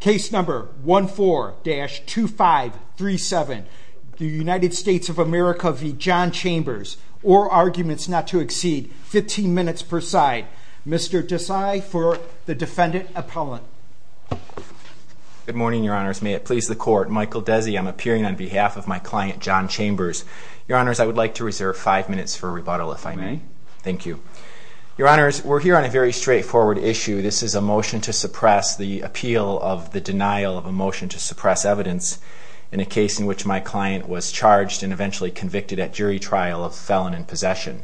Case number 14-2537. The United States of America v. John Chambers. All arguments not to exceed 15 minutes per side. Mr. Desai for the defendant appellant. Good morning, your honors. May it please the court. Michael Desi, I'm appearing on behalf of my client, John Chambers. Your honors, I would like to reserve five minutes for rebuttal if I may. May. Thank you. Your honors, we're here on a very straightforward issue. This is a motion to suppress the appeal of the denial of a motion to suppress evidence in a case in which my client was charged and eventually convicted at jury trial of felon in possession.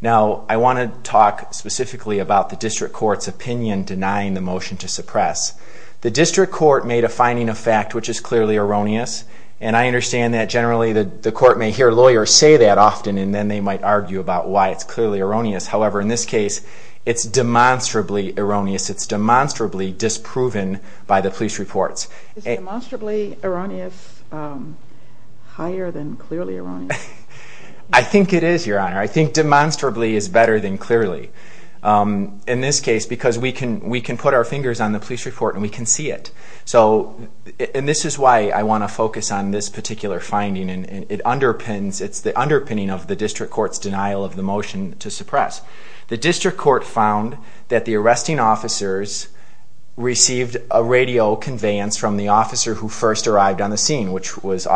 Now, I want to talk specifically about the district court's opinion denying the motion to suppress. The district court made a finding of fact which is clearly erroneous, and I understand that generally the court may hear lawyers say that often and then they might argue about why it's clearly erroneous. However, in this case, it's demonstrably erroneous. It's demonstrably disproven by the police reports. Is demonstrably erroneous higher than clearly erroneous? I think it is, your honor. I think demonstrably is better than clearly in this case because we can put our fingers on the police report and we can see it. And this is why I want to focus on this particular finding. It's the underpinning of the district court's denial of the motion to suppress. The district court found that the arresting officers received a radio conveyance from the officer who first arrived on the scene, which was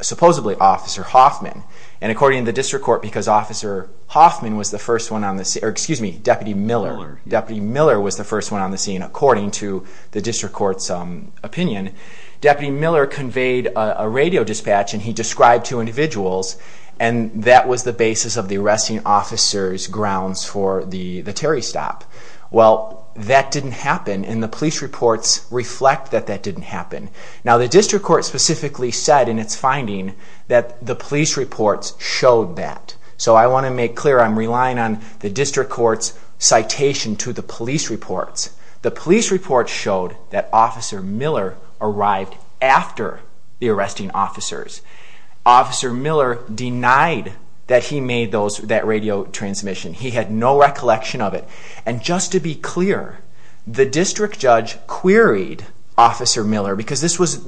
supposedly Officer Hoffman. And according to the district court, because Officer Hoffman was the first one on the scene, or excuse me, Deputy Miller was the first one on the scene, according to the district court's opinion, Deputy Miller conveyed a radio dispatch and he described two individuals and that was the basis of the arresting officers' grounds for the Terry stop. Well, that didn't happen and the police reports reflect that that didn't happen. Now, the district court specifically said in its finding that the police reports showed that. So I want to make clear I'm relying on the district court's citation to the police reports. The police reports showed that Officer Miller arrived after the arresting officers. Officer Miller denied that he made that radio transmission. He had no recollection of it. And just to be clear, the district judge queried Officer Miller because this was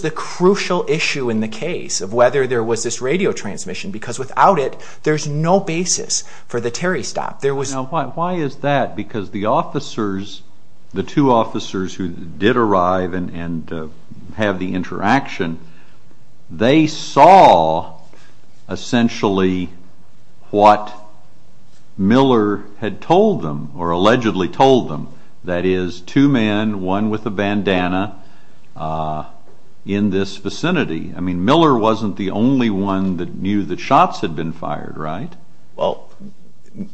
the crucial issue in the case of whether there was this radio transmission because without it, there's no basis for the Terry stop. Now, why is that? Because the officers, the two officers who did arrive and have the interaction, they saw essentially what Miller had told them or allegedly told them. That is, two men, one with a bandana, in this vicinity. I mean, Miller wasn't the only one that knew that shots had been fired, right? Well,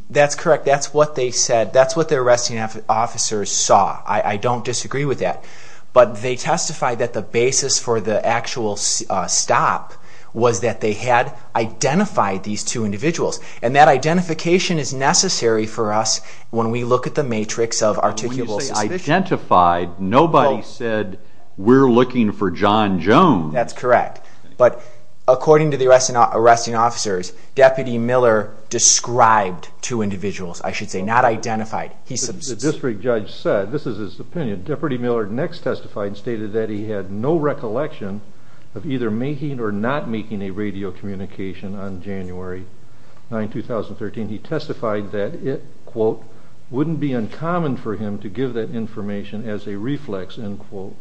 that's correct. That's what they said. That's what the arresting officers saw. I don't disagree with that. But they testified that the basis for the actual stop was that they had identified these two individuals. And that identification is necessary for us when we look at the matrix of articulable suspicion. When you say identified, nobody said, we're looking for John Jones. That's correct. But according to the arresting officers, Deputy Miller described two individuals, I should say, not identified. The district judge said, this is his opinion, Deputy Miller next testified and stated that he had no recollection of either making or not making a radio communication on January 9, 2013. He testified that it, quote, wouldn't be uncommon for him to give that information as a reflex, end quote.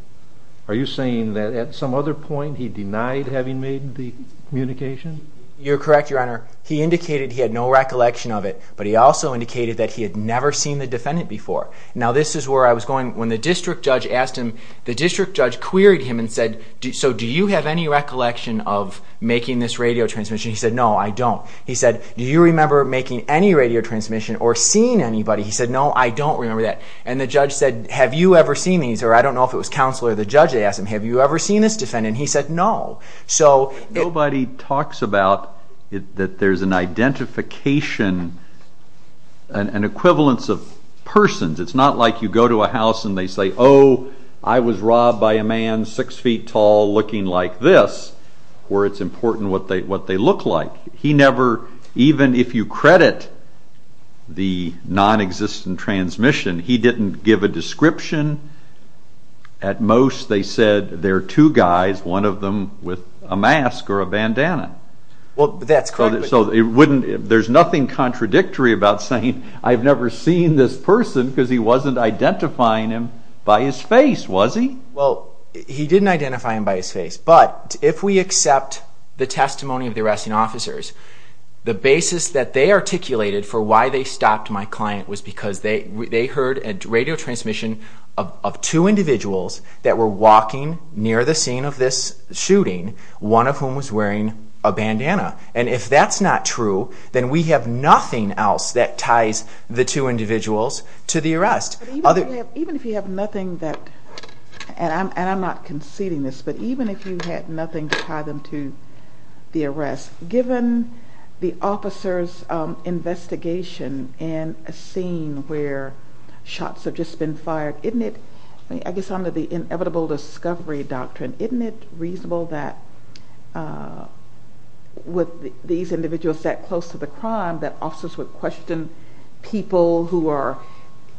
Are you saying that at some other point he denied having made the communication? You're correct, Your Honor. He indicated he had no recollection of it, but he also indicated that he had never seen the defendant before. Now, this is where I was going. When the district judge asked him, the district judge queried him and said, so do you have any recollection of making this radio transmission? He said, no, I don't. He said, do you remember making any radio transmission or seeing anybody? He said, no, I don't remember that. And the judge said, have you ever seen these? He said, I don't know if it was counsel or the judge. They asked him, have you ever seen this defendant? He said, no. Nobody talks about that there's an identification, an equivalence of persons. It's not like you go to a house and they say, oh, I was robbed by a man six feet tall looking like this, where it's important what they look like. He never, even if you credit the nonexistent transmission, he didn't give a description. At most, they said there are two guys, one of them with a mask or a bandana. There's nothing contradictory about saying, I've never seen this person because he wasn't identifying him by his face, was he? He didn't identify him by his face. But if we accept the testimony of the arresting officers, the basis that they articulated for why they stopped my client was because they heard a radio transmission of two individuals that were walking near the scene of this shooting, one of whom was wearing a bandana. And if that's not true, then we have nothing else that ties the two individuals to the arrest. Even if you have nothing that, and I'm not conceding this, but even if you had nothing to tie them to the arrest, given the officer's investigation in a scene where shots have just been fired, isn't it, I guess under the inevitable discovery doctrine, isn't it reasonable that with these individuals that close to the crime that officers would question people who are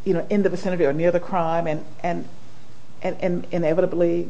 in the vicinity or near the crime and inevitably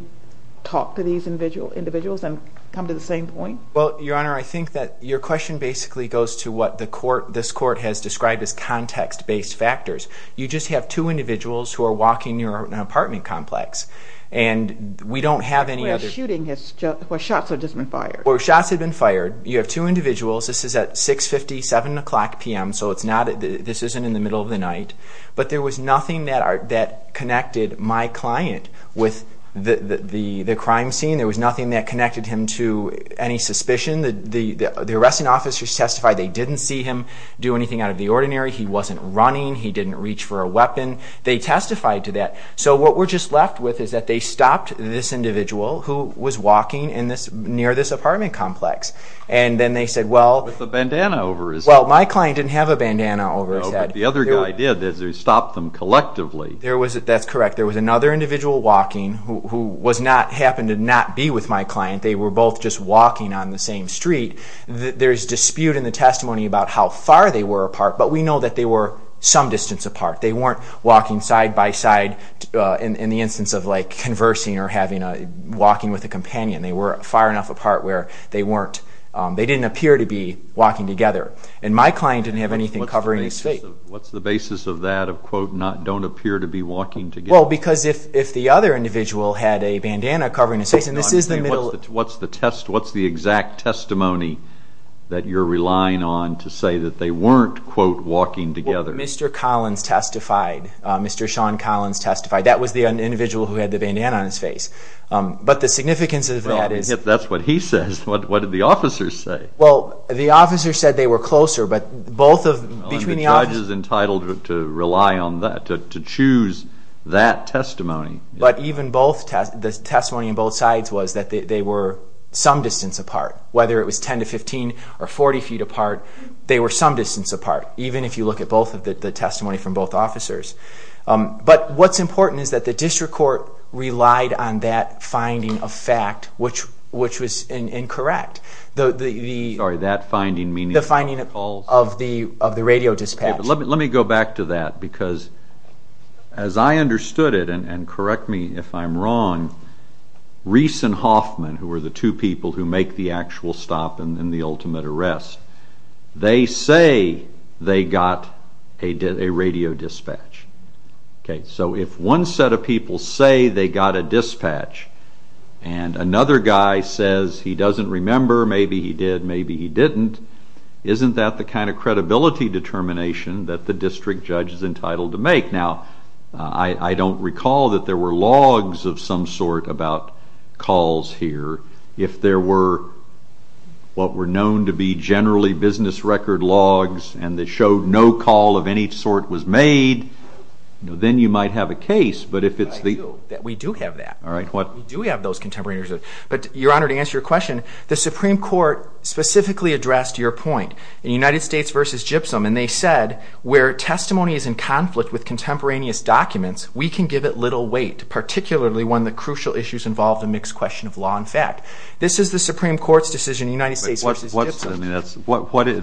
talk to these individuals and come to the same point? Well, Your Honor, I think that your question basically goes to what the court, this court has described as context-based factors. You just have two individuals who are walking near an apartment complex and we don't have any other... Where shooting has, where shots have just been fired. Where shots have been fired. You have two individuals. This is at 6.50, 7 o'clock p.m. So it's not, this isn't in the middle of the night. But there was nothing that connected my client with the crime scene. There was nothing that connected him to any suspicion. The arresting officers testified they didn't see him do anything out of the ordinary. He wasn't running. He didn't reach for a weapon. They testified to that. So what we're just left with is that they stopped this individual who was walking near this apartment complex. And then they said, well... With a bandana over his head. Well, my client didn't have a bandana over his head. No, but the other guy did. They stopped them collectively. That's correct. There was another individual walking who was not, happened to not be with my client. They were both just walking on the same street. There's dispute in the testimony about how far they were apart. But we know that they were some distance apart. They weren't walking side by side in the instance of, like, conversing or having a, walking with a companion. They were far enough apart where they weren't, they didn't appear to be walking together. And my client didn't have anything covering his face. What's the basis of that of, quote, don't appear to be walking together? Well, because if the other individual had a bandana covering his face, and this is the middle... What's the test, what's the exact testimony that you're relying on to say that they weren't, quote, walking together? Well, Mr. Collins testified. Mr. Sean Collins testified. That was the individual who had the bandana on his face. But the significance of that is... Well, if that's what he says, what did the officers say? Well, the officers said they were closer, but both of, between the officers... But to choose that testimony... But even both, the testimony on both sides was that they were some distance apart. Whether it was 10 to 15 or 40 feet apart, they were some distance apart, even if you look at both of the testimony from both officers. But what's important is that the district court relied on that finding of fact, which was incorrect. Sorry, that finding meaning... The finding of the radio dispatch. Let me go back to that, because as I understood it, and correct me if I'm wrong, Reese and Hoffman, who were the two people who make the actual stop and then the ultimate arrest, they say they got a radio dispatch. So if one set of people say they got a dispatch and another guy says he doesn't remember, maybe he did, maybe he didn't, isn't that the kind of credibility determination that the district judge is entitled to make? Now, I don't recall that there were logs of some sort about calls here. If there were what were known to be generally business record logs and they showed no call of any sort was made, then you might have a case, but if it's the... We do have that. All right, what... We do have those contemporary records. But, Your Honor, to answer your question, the Supreme Court specifically addressed your point in United States v. Gypsum, and they said where testimony is in conflict with contemporaneous documents, we can give it little weight, particularly when the crucial issues involve the mixed question of law and fact. This is the Supreme Court's decision in United States v. Gypsum.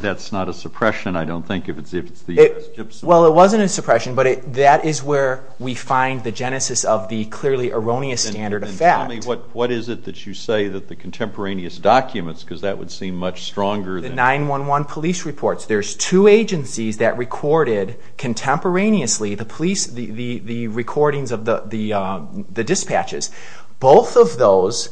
That's not a suppression, I don't think, if it's the U.S. Gypsum. Well, it wasn't a suppression, but that is where we find the genesis of the clearly erroneous standard of fact. Tell me, what is it that you say that the contemporaneous documents, because that would seem much stronger than... The 911 police reports. There's two agencies that recorded contemporaneously the police, the recordings of the dispatches. Both of those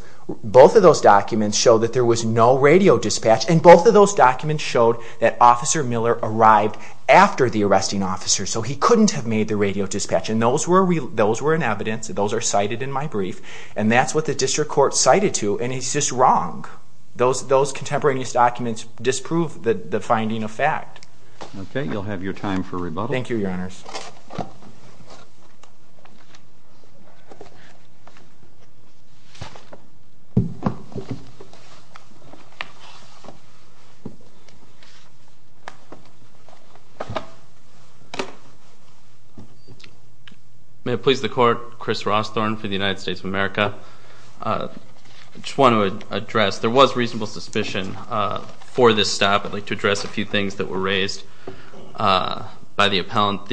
documents show that there was no radio dispatch, and both of those documents showed that Officer Miller arrived after the arresting officer, so he couldn't have made the radio dispatch. And those were in evidence. Those are cited in my brief. And that's what the district court cited to, and he's just wrong. Those contemporaneous documents disprove the finding of fact. Okay. You'll have your time for rebuttal. Thank you, Your Honors. May it please the Court. Chris Rossthorne for the United States of America. I just want to address, there was reasonable suspicion for this stop. I'd like to address a few things that were raised by the appellant. Both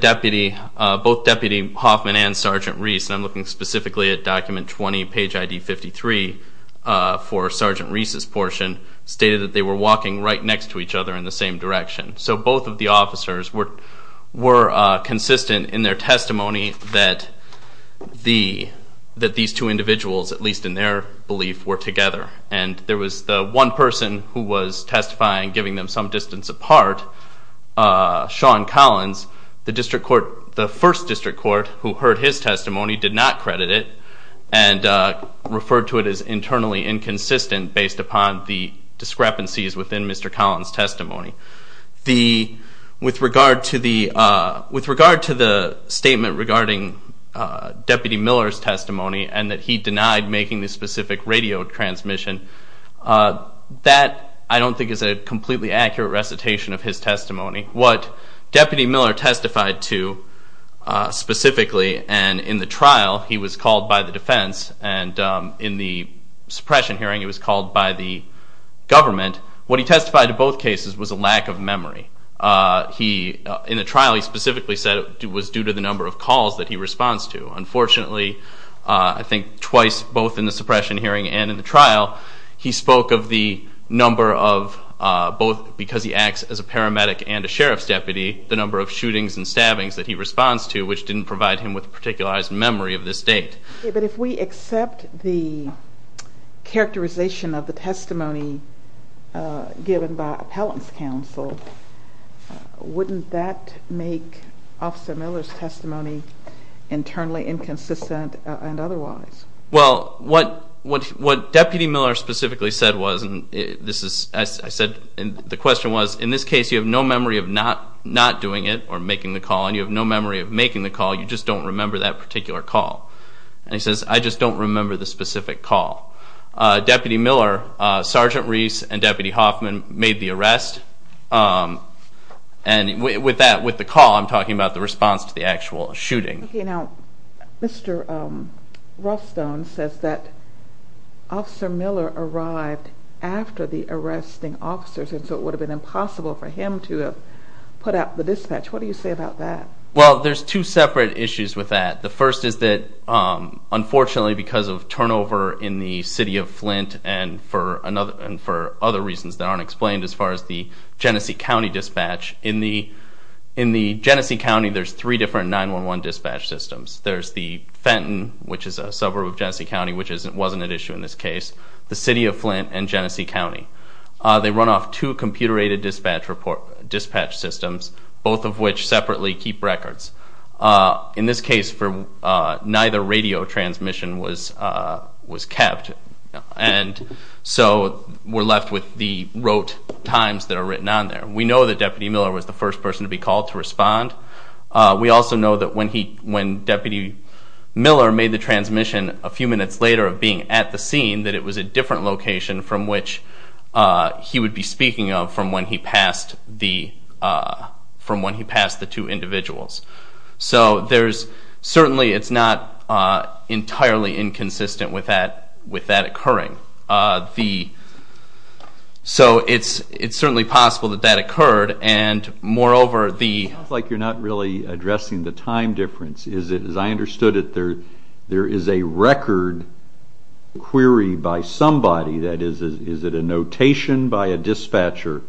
Deputy Hoffman and Sergeant Reese, and I'm looking specifically at document 20, page ID 53, for Sergeant Reese's portion, stated that they were walking right next to each other in the same direction. So both of the officers were consistent in their testimony that these two there was the one person who was testifying, giving them some distance apart, Sean Collins. The first district court who heard his testimony did not credit it and referred to it as internally inconsistent based upon the discrepancies within Mr. Collins' testimony. With regard to the statement regarding Deputy Miller's testimony and that he denied making the specific radio transmission, that I don't think is a completely accurate recitation of his testimony. What Deputy Miller testified to specifically, and in the trial he was called by the defense, and in the suppression hearing he was called by the government, what he testified to both cases was a lack of memory. In the trial he specifically said it was due to the number of calls that he responds to. Unfortunately, I think twice, both in the suppression hearing and in the trial, he spoke of the number of both because he acts as a paramedic and a sheriff's deputy, the number of shootings and stabbings that he responds to, which didn't provide him with a particularized memory of this date. But if we accept the characterization of the testimony given by appellant's counsel, wouldn't that make Officer Miller's testimony internally inconsistent and otherwise? Well, what Deputy Miller specifically said was, and the question was, in this case you have no memory of not doing it or making the call, and you have no memory of making the call, you just don't remember that particular call. And he says, I just don't remember the specific call. Deputy Miller, Sergeant Reese, and Deputy Hoffman made the arrest, and with the call I'm talking about the response to the actual shooting. Okay, now Mr. Rothstone says that Officer Miller arrived after the arresting officers, and so it would have been impossible for him to have put out the dispatch. What do you say about that? Well, there's two separate issues with that. The first is that unfortunately because of turnover in the City of Flint and for other reasons that aren't explained as far as the Genesee County dispatch, in the Genesee County there's three different 911 dispatch systems. There's the Fenton, which is a suburb of Genesee County, which wasn't at issue in this case, the City of Flint, and Genesee County. They run off two computer-aided dispatch systems, both of which separately keep records. In this case, neither radio transmission was kept, and so we're left with the rote times that are written on there. We know that Deputy Miller was the first person to be called to respond. We also know that when Deputy Miller made the transmission a few minutes later of being at the scene, that it was a different location from which he would be speaking of from when he passed the two individuals. So certainly it's not entirely inconsistent with that occurring. So it's certainly possible that that occurred, and moreover the— It sounds like you're not really addressing the time difference. As I understood it, there is a record query by somebody. That is, is it a notation by a dispatcher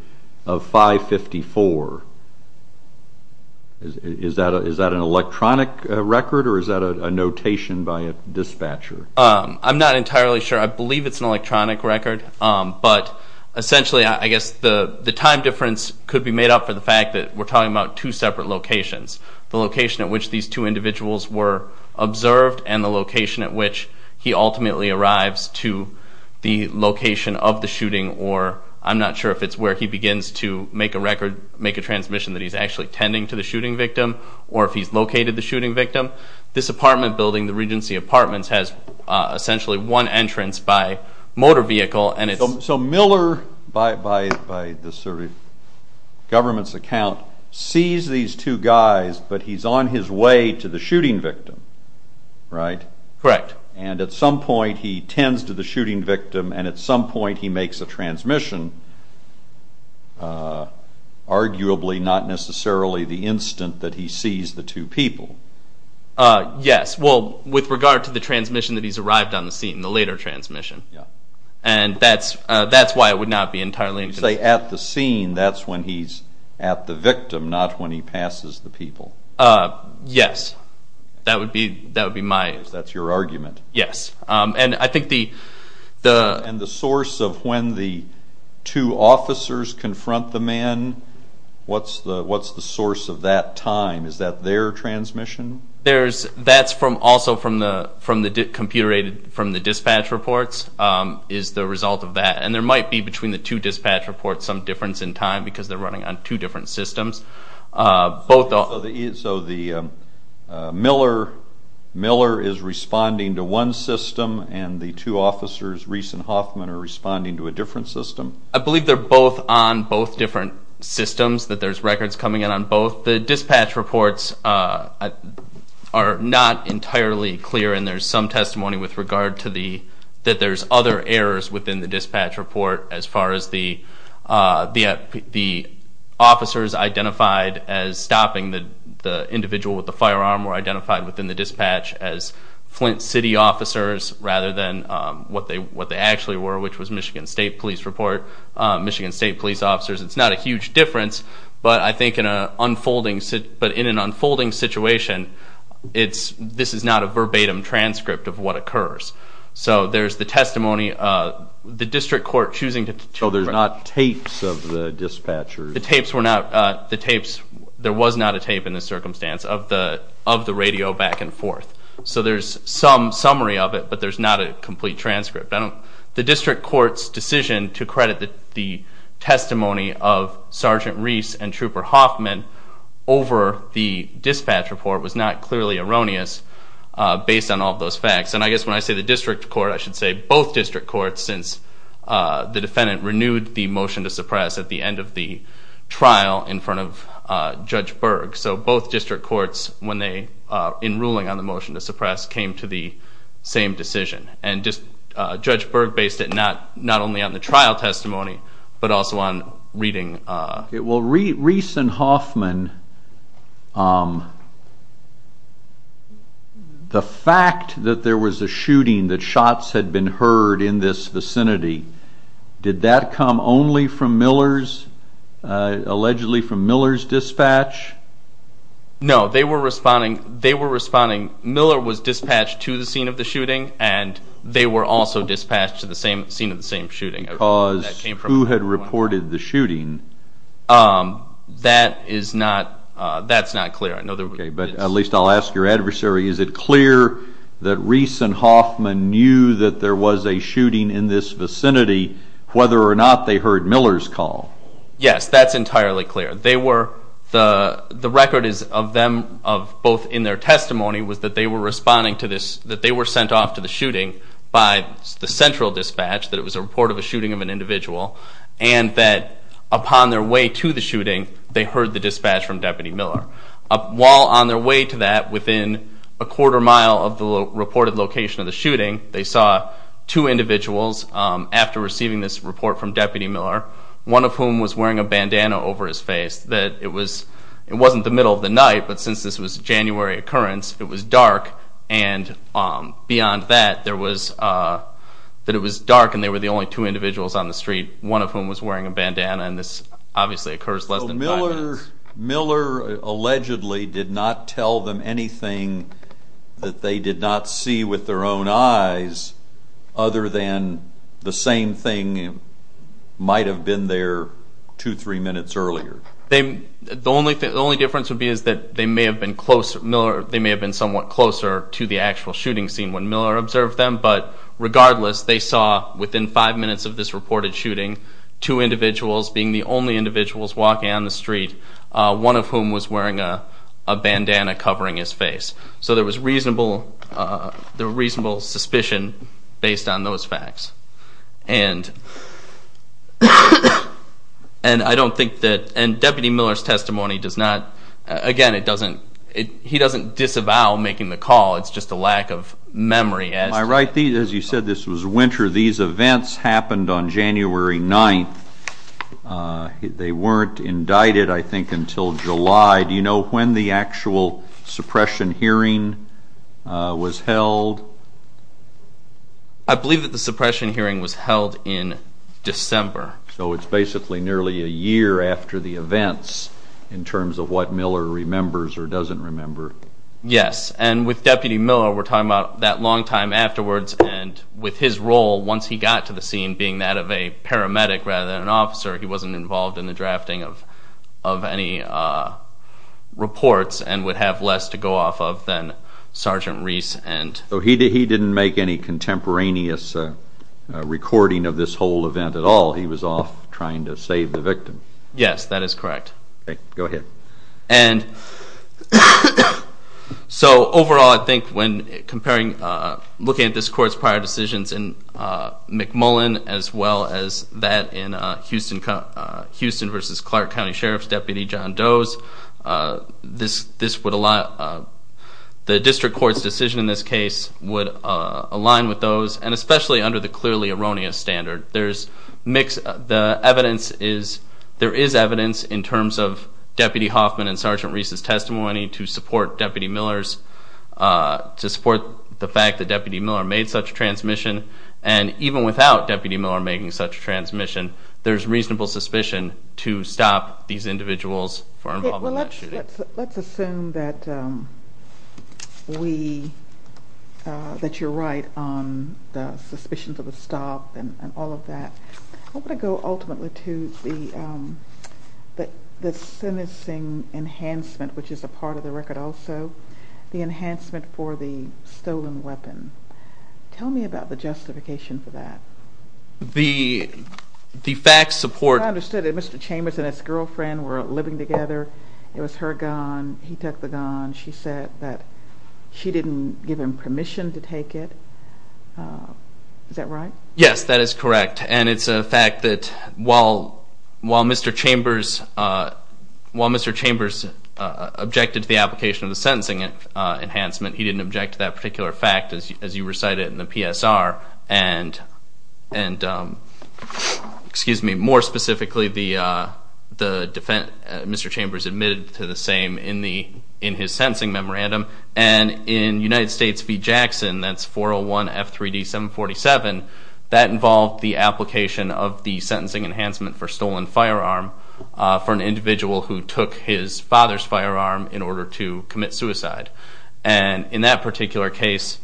of 554? Is that an electronic record, or is that a notation by a dispatcher? I'm not entirely sure. I believe it's an electronic record, but essentially I guess the time difference could be made up for the fact that we're talking about two separate locations, the location at which these two individuals were observed and the location at which he ultimately arrives to the location of the shooting, or I'm not sure if it's where he begins to make a transmission that he's actually tending to the shooting victim, or if he's located the shooting victim. This apartment building, the Regency Apartments, has essentially one entrance by motor vehicle, and it's— So Miller, by the government's account, sees these two guys, but he's on his way to the shooting victim, right? Correct. And at some point he tends to the shooting victim, and at some point he makes a transmission, arguably not necessarily the instant that he sees the two people. Yes. Well, with regard to the transmission that he's arrived on the scene, the later transmission, and that's why it would not be entirely— You say at the scene. That's when he's at the victim, not when he passes the people. Yes. That would be my— Because that's your argument. Yes. And I think the— And the source of when the two officers confront the man, what's the source of that time? Is that their transmission? That's also from the dispatch reports is the result of that. And there might be, between the two dispatch reports, some difference in time because they're running on two different systems. So the Miller is responding to one system, and the two officers, Reese and Hoffman, are responding to a different system? I believe they're both on both different systems, that there's records coming in on both. The dispatch reports are not entirely clear, and there's some testimony with regard to the— The dispatch report, as far as the officers identified as stopping the individual with the firearm were identified within the dispatch as Flint City officers rather than what they actually were, which was Michigan State Police report, Michigan State Police officers. It's not a huge difference, but I think in an unfolding situation, this is not a verbatim transcript of what occurs. So there's the testimony of the district court choosing to— So there's not tapes of the dispatchers? The tapes were not—there was not a tape in this circumstance of the radio back and forth. So there's some summary of it, but there's not a complete transcript. The district court's decision to credit the testimony of Sergeant Reese and Trooper Hoffman over the dispatch report was not clearly erroneous based on all of those facts. And I guess when I say the district court, I should say both district courts since the defendant renewed the motion to suppress at the end of the trial in front of Judge Berg. So both district courts, in ruling on the motion to suppress, came to the same decision. And Judge Berg based it not only on the trial testimony but also on reading— Well, Reese and Hoffman, the fact that there was a shooting, that shots had been heard in this vicinity, did that come only from Miller's—allegedly from Miller's dispatch? No, they were responding, Miller was dispatched to the scene of the shooting and they were also dispatched to the same scene of the same shooting. Because who had reported the shooting? That is not—that's not clear. Okay, but at least I'll ask your adversary, is it clear that Reese and Hoffman knew that there was a shooting in this vicinity whether or not they heard Miller's call? Yes, that's entirely clear. They were—the record is of them, both in their testimony, was that they were responding to this, that they were sent off to the shooting by the central dispatch, that it was a report of a shooting of an individual, and that upon their way to the shooting, they heard the dispatch from Deputy Miller. While on their way to that, within a quarter mile of the reported location of the shooting, they saw two individuals after receiving this report from Deputy Miller, one of whom was wearing a bandana over his face, that it was—it wasn't the middle of the night, but since this was a January occurrence, it was dark, and beyond that, there was—that it was dark, and they were the only two individuals on the street, one of whom was wearing a bandana, and this obviously occurs less than five minutes. Miller allegedly did not tell them anything that they did not see with their own eyes other than the same thing might have been there two, three minutes earlier. The only difference would be is that they may have been closer— closer to the actual shooting scene when Miller observed them, but regardless, they saw, within five minutes of this reported shooting, two individuals being the only individuals walking on the street, one of whom was wearing a bandana covering his face. So there was reasonable—there was reasonable suspicion based on those facts, and I don't think that—and Deputy Miller's testimony does not— it's just a lack of memory as to— Am I right? As you said, this was winter. These events happened on January 9th. They weren't indicted, I think, until July. Do you know when the actual suppression hearing was held? I believe that the suppression hearing was held in December. So it's basically nearly a year after the events in terms of what Miller remembers or doesn't remember. Yes, and with Deputy Miller, we're talking about that long time afterwards, and with his role, once he got to the scene, being that of a paramedic rather than an officer, he wasn't involved in the drafting of any reports and would have less to go off of than Sergeant Reese and— So he didn't make any contemporaneous recording of this whole event at all. He was off trying to save the victim. Yes, that is correct. Okay, go ahead. And so overall, I think when comparing— looking at this court's prior decisions in McMullen as well as that in Houston v. Clark County Sheriff's Deputy John Doe's, this would allow—the district court's decision in this case would align with those, and especially under the clearly erroneous standard. The evidence is—there is evidence in terms of Deputy Hoffman and Sergeant Reese's testimony to support Deputy Miller's— to support the fact that Deputy Miller made such a transmission, and even without Deputy Miller making such a transmission, there's reasonable suspicion to stop these individuals for involvement in that shooting. Let's assume that we—that you're right on the suspicions of a stop and all of that. I want to go ultimately to the sentencing enhancement, which is a part of the record also, the enhancement for the stolen weapon. Tell me about the justification for that. The facts support— I understood that Mr. Chambers and his girlfriend were living together. It was her gun. He took the gun. She said that she didn't give him permission to take it. Is that right? Yes, that is correct. And it's a fact that while Mr. Chambers objected to the application of the sentencing enhancement, he didn't object to that particular fact, as you recited in the PSR, and more specifically, Mr. Chambers admitted to the same in his sentencing memorandum. And in United States v. Jackson, that's 401F3D747, that involved the application of the sentencing enhancement for stolen firearm for an individual who took his father's firearm in order to commit suicide. And in that particular case,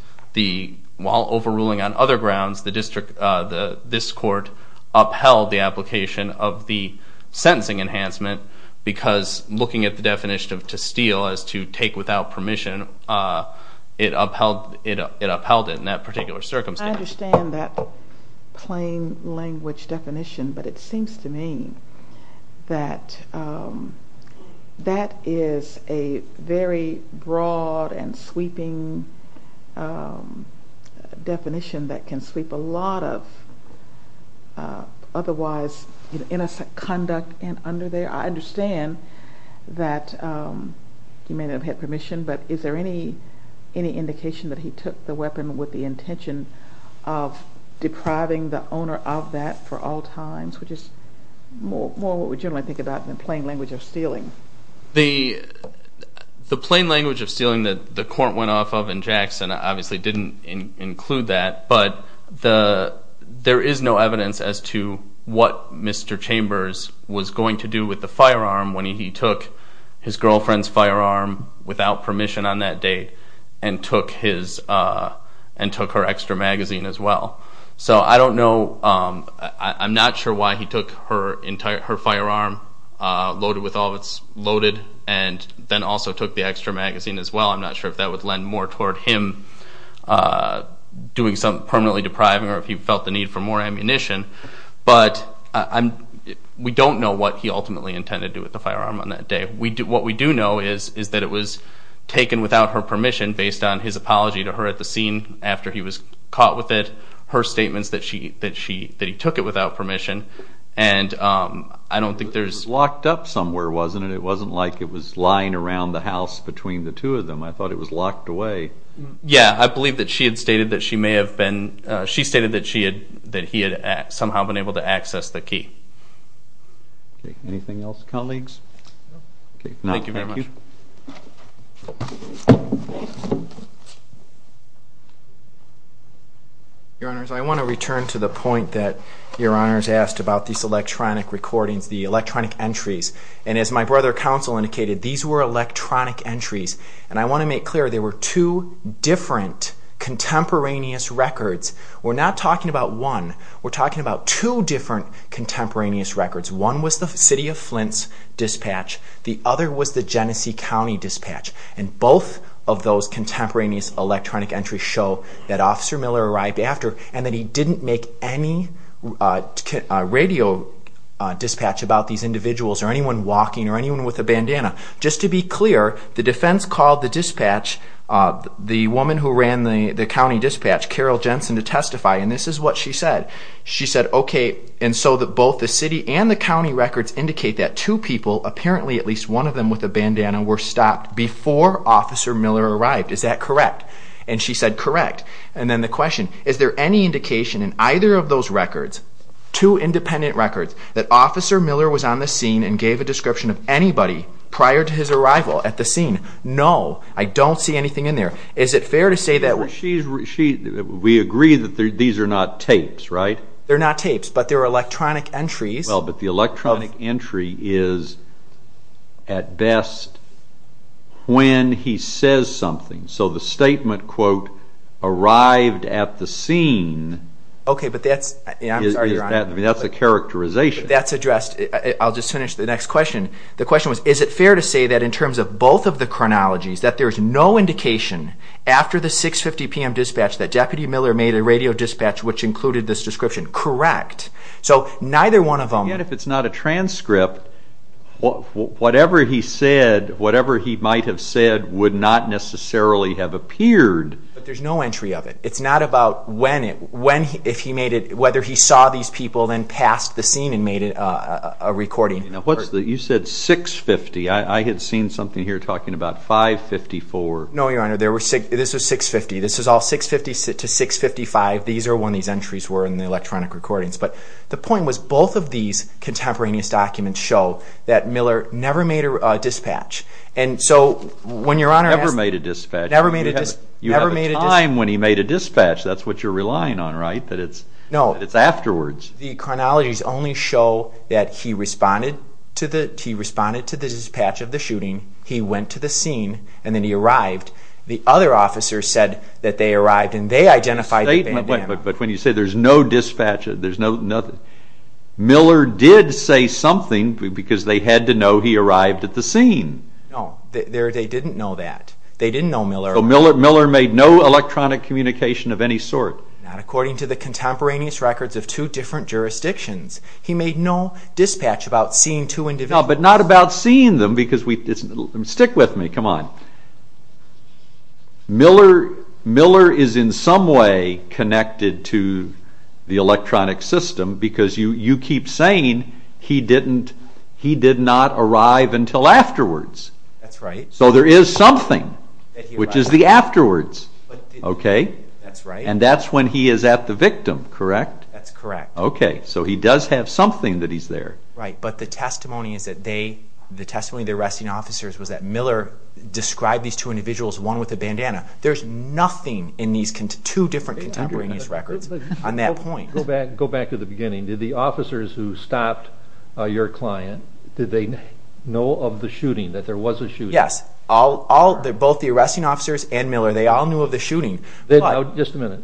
while overruling on other grounds, this court upheld the application of the sentencing enhancement because looking at the definition of to steal as to take without permission, it upheld it in that particular circumstance. I understand that plain language definition, but it seems to me that that is a very broad and sweeping definition that can sweep a lot of otherwise innocent conduct under there. I understand that he may not have had permission, but is there any indication that he took the weapon with the intention of depriving the owner of that for all times, which is more what we generally think about than plain language of stealing. The plain language of stealing that the court went off of in Jackson obviously didn't include that. But there is no evidence as to what Mr. Chambers was going to do with the firearm when he took his girlfriend's firearm without permission on that date and took her extra magazine as well. So I don't know. I'm not sure why he took her firearm loaded with all of its loaded and then also took the extra magazine as well. I'm not sure if that would lend more toward him doing something permanently depriving or if he felt the need for more ammunition. But we don't know what he ultimately intended to do with the firearm on that day. What we do know is that it was taken without her permission based on his apology to her at the scene after he was caught with it, her statements that he took it without permission. And I don't think there's... It was locked up somewhere, wasn't it? It wasn't like it was lying around the house between the two of them. I thought it was locked away. Yeah, I believe that she had stated that she may have been... She stated that he had somehow been able to access the key. Anything else, colleagues? No, thank you. Your Honors, I want to return to the point that Your Honors asked about these electronic recordings, the electronic entries. And as my brother counsel indicated, these were electronic entries. And I want to make clear there were two different contemporaneous records. We're not talking about one. We're talking about two different contemporaneous records. One was the City of Flint's dispatch. The other was the Genesee County dispatch. And both of those contemporaneous electronic entries show that Officer Miller arrived after and that he didn't make any radio dispatch about these individuals or anyone walking or anyone with a bandana. Just to be clear, the defense called the dispatch, the woman who ran the county dispatch, Carol Jensen, to testify. And this is what she said. She said, okay, and so both the city and the county records indicate that two people, apparently at least one of them with a bandana, were stopped before Officer Miller arrived. Is that correct? And she said, correct. And then the question, is there any indication in either of those records, two independent records, that Officer Miller was on the scene and gave a description of anybody prior to his arrival at the scene? No, I don't see anything in there. Is it fair to say that? We agree that these are not tapes, right? They're not tapes, but they're electronic entries. Well, but the electronic entry is at best when he says something. So the statement, quote, arrived at the scene, that's a characterization. That's addressed. I'll just finish the next question. The question was, is it fair to say that in terms of both of the chronologies, that there's no indication after the 6.50 p.m. dispatch that Deputy Miller made a radio dispatch which included this description? Correct. So neither one of them. Yet if it's not a transcript, whatever he said, whatever he might have said would not necessarily have appeared. But there's no entry of it. It's not about when, if he made it, whether he saw these people then passed the scene and made a recording. You said 6.50. I had seen something here talking about 5.54. No, Your Honor, this was 6.50. This was all 6.50 to 6.55. These are when these entries were in the electronic recordings. But the point was both of these contemporaneous documents show that Miller never made a dispatch. Never made a dispatch. Never made a dispatch. You have a time when he made a dispatch. That's what you're relying on, right, that it's afterwards? No, the chronologies only show that he responded to the dispatch of the shooting, he went to the scene, and then he arrived. The other officers said that they arrived and they identified the bandit. But when you say there's no dispatch, there's nothing. Miller did say something because they had to know he arrived at the scene. No, they didn't know that. They didn't know Miller arrived. Miller made no electronic communication of any sort. Not according to the contemporaneous records of two different jurisdictions. He made no dispatch about seeing two individuals. No, but not about seeing them because we... Stick with me, come on. Miller is in some way connected to the electronic system because you keep saying he did not arrive until afterwards. That's right. So there is something, which is the afterwards. Okay? That's right. And that's when he is at the victim, correct? That's correct. Okay, so he does have something that he's there. Right, but the testimony is that they, the testimony of the arresting officers was that Miller described these two individuals, one with a bandana. There's nothing in these two different contemporaneous records on that point. Go back to the beginning. Did the officers who stopped your client, did they know of the shooting, that there was a shooting? Yes. Both the arresting officers and Miller, they all knew of the shooting. Just a minute.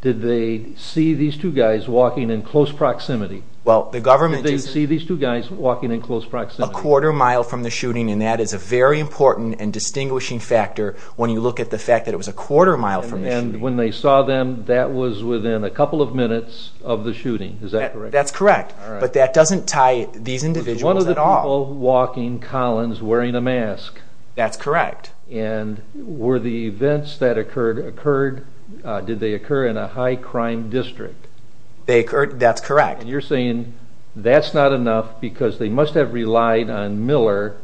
Did they see these two guys walking in close proximity? Well, the government... Did they see these two guys walking in close proximity? A quarter mile from the shooting, and that is a very important and distinguishing factor when you look at the fact that it was a quarter mile from the shooting. And when they saw them, that was within a couple of minutes of the shooting. Is that correct? That's correct. But that doesn't tie these individuals at all. Were they one of the people walking, Collins, wearing a mask? That's correct. And were the events that occurred, did they occur in a high crime district? That's correct. And you're saying that's not enough because they must have relied on Miller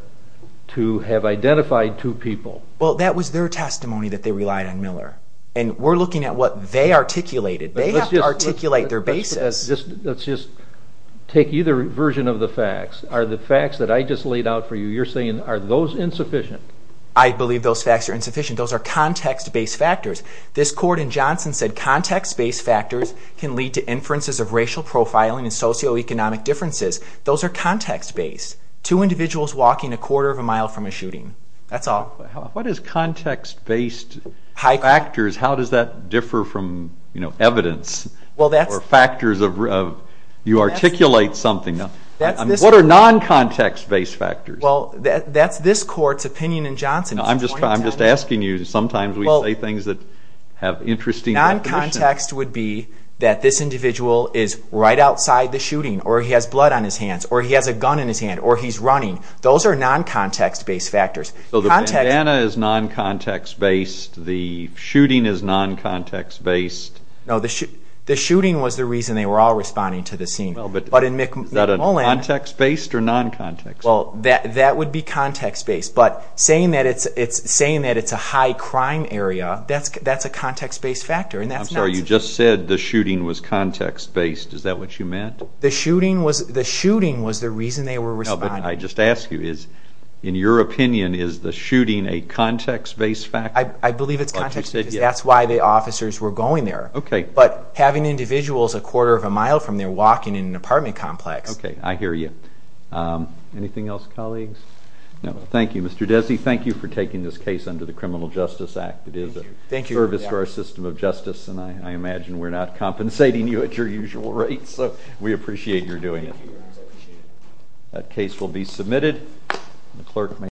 to have identified two people. Well, that was their testimony that they relied on Miller. And we're looking at what they articulated. They have to articulate their basis. Let's just take either version of the facts. Are the facts that I just laid out for you, you're saying are those insufficient? I believe those facts are insufficient. Those are context-based factors. This court in Johnson said context-based factors can lead to inferences of racial profiling and socioeconomic differences. Those are context-based. Two individuals walking a quarter of a mile from a shooting. That's all. What is context-based factors? How does that differ from evidence or factors of you articulate something? What are non-context-based factors? Well, that's this court's opinion in Johnson. I'm just asking you. Sometimes we say things that have interesting repetition. Non-context would be that this individual is right outside the shooting or he has blood on his hands or he has a gun in his hand or he's running. Those are non-context-based factors. So the bandana is non-context-based. The shooting is non-context-based. No, the shooting was the reason they were all responding to the scene. Is that context-based or non-context-based? That would be context-based. But saying that it's a high crime area, that's a context-based factor. I'm sorry, you just said the shooting was context-based. Is that what you meant? The shooting was the reason they were responding. No, but I just ask you, in your opinion, is the shooting a context-based factor? I believe it's context, because that's why the officers were going there. But having individuals a quarter of a mile from there walking in an apartment complex. Okay, I hear you. Anything else, colleagues? No, thank you. Mr. Desi, thank you for taking this case under the Criminal Justice Act. It is a service to our system of justice, and I imagine we're not compensating you at your usual rates. We appreciate your doing it. That case will be submitted.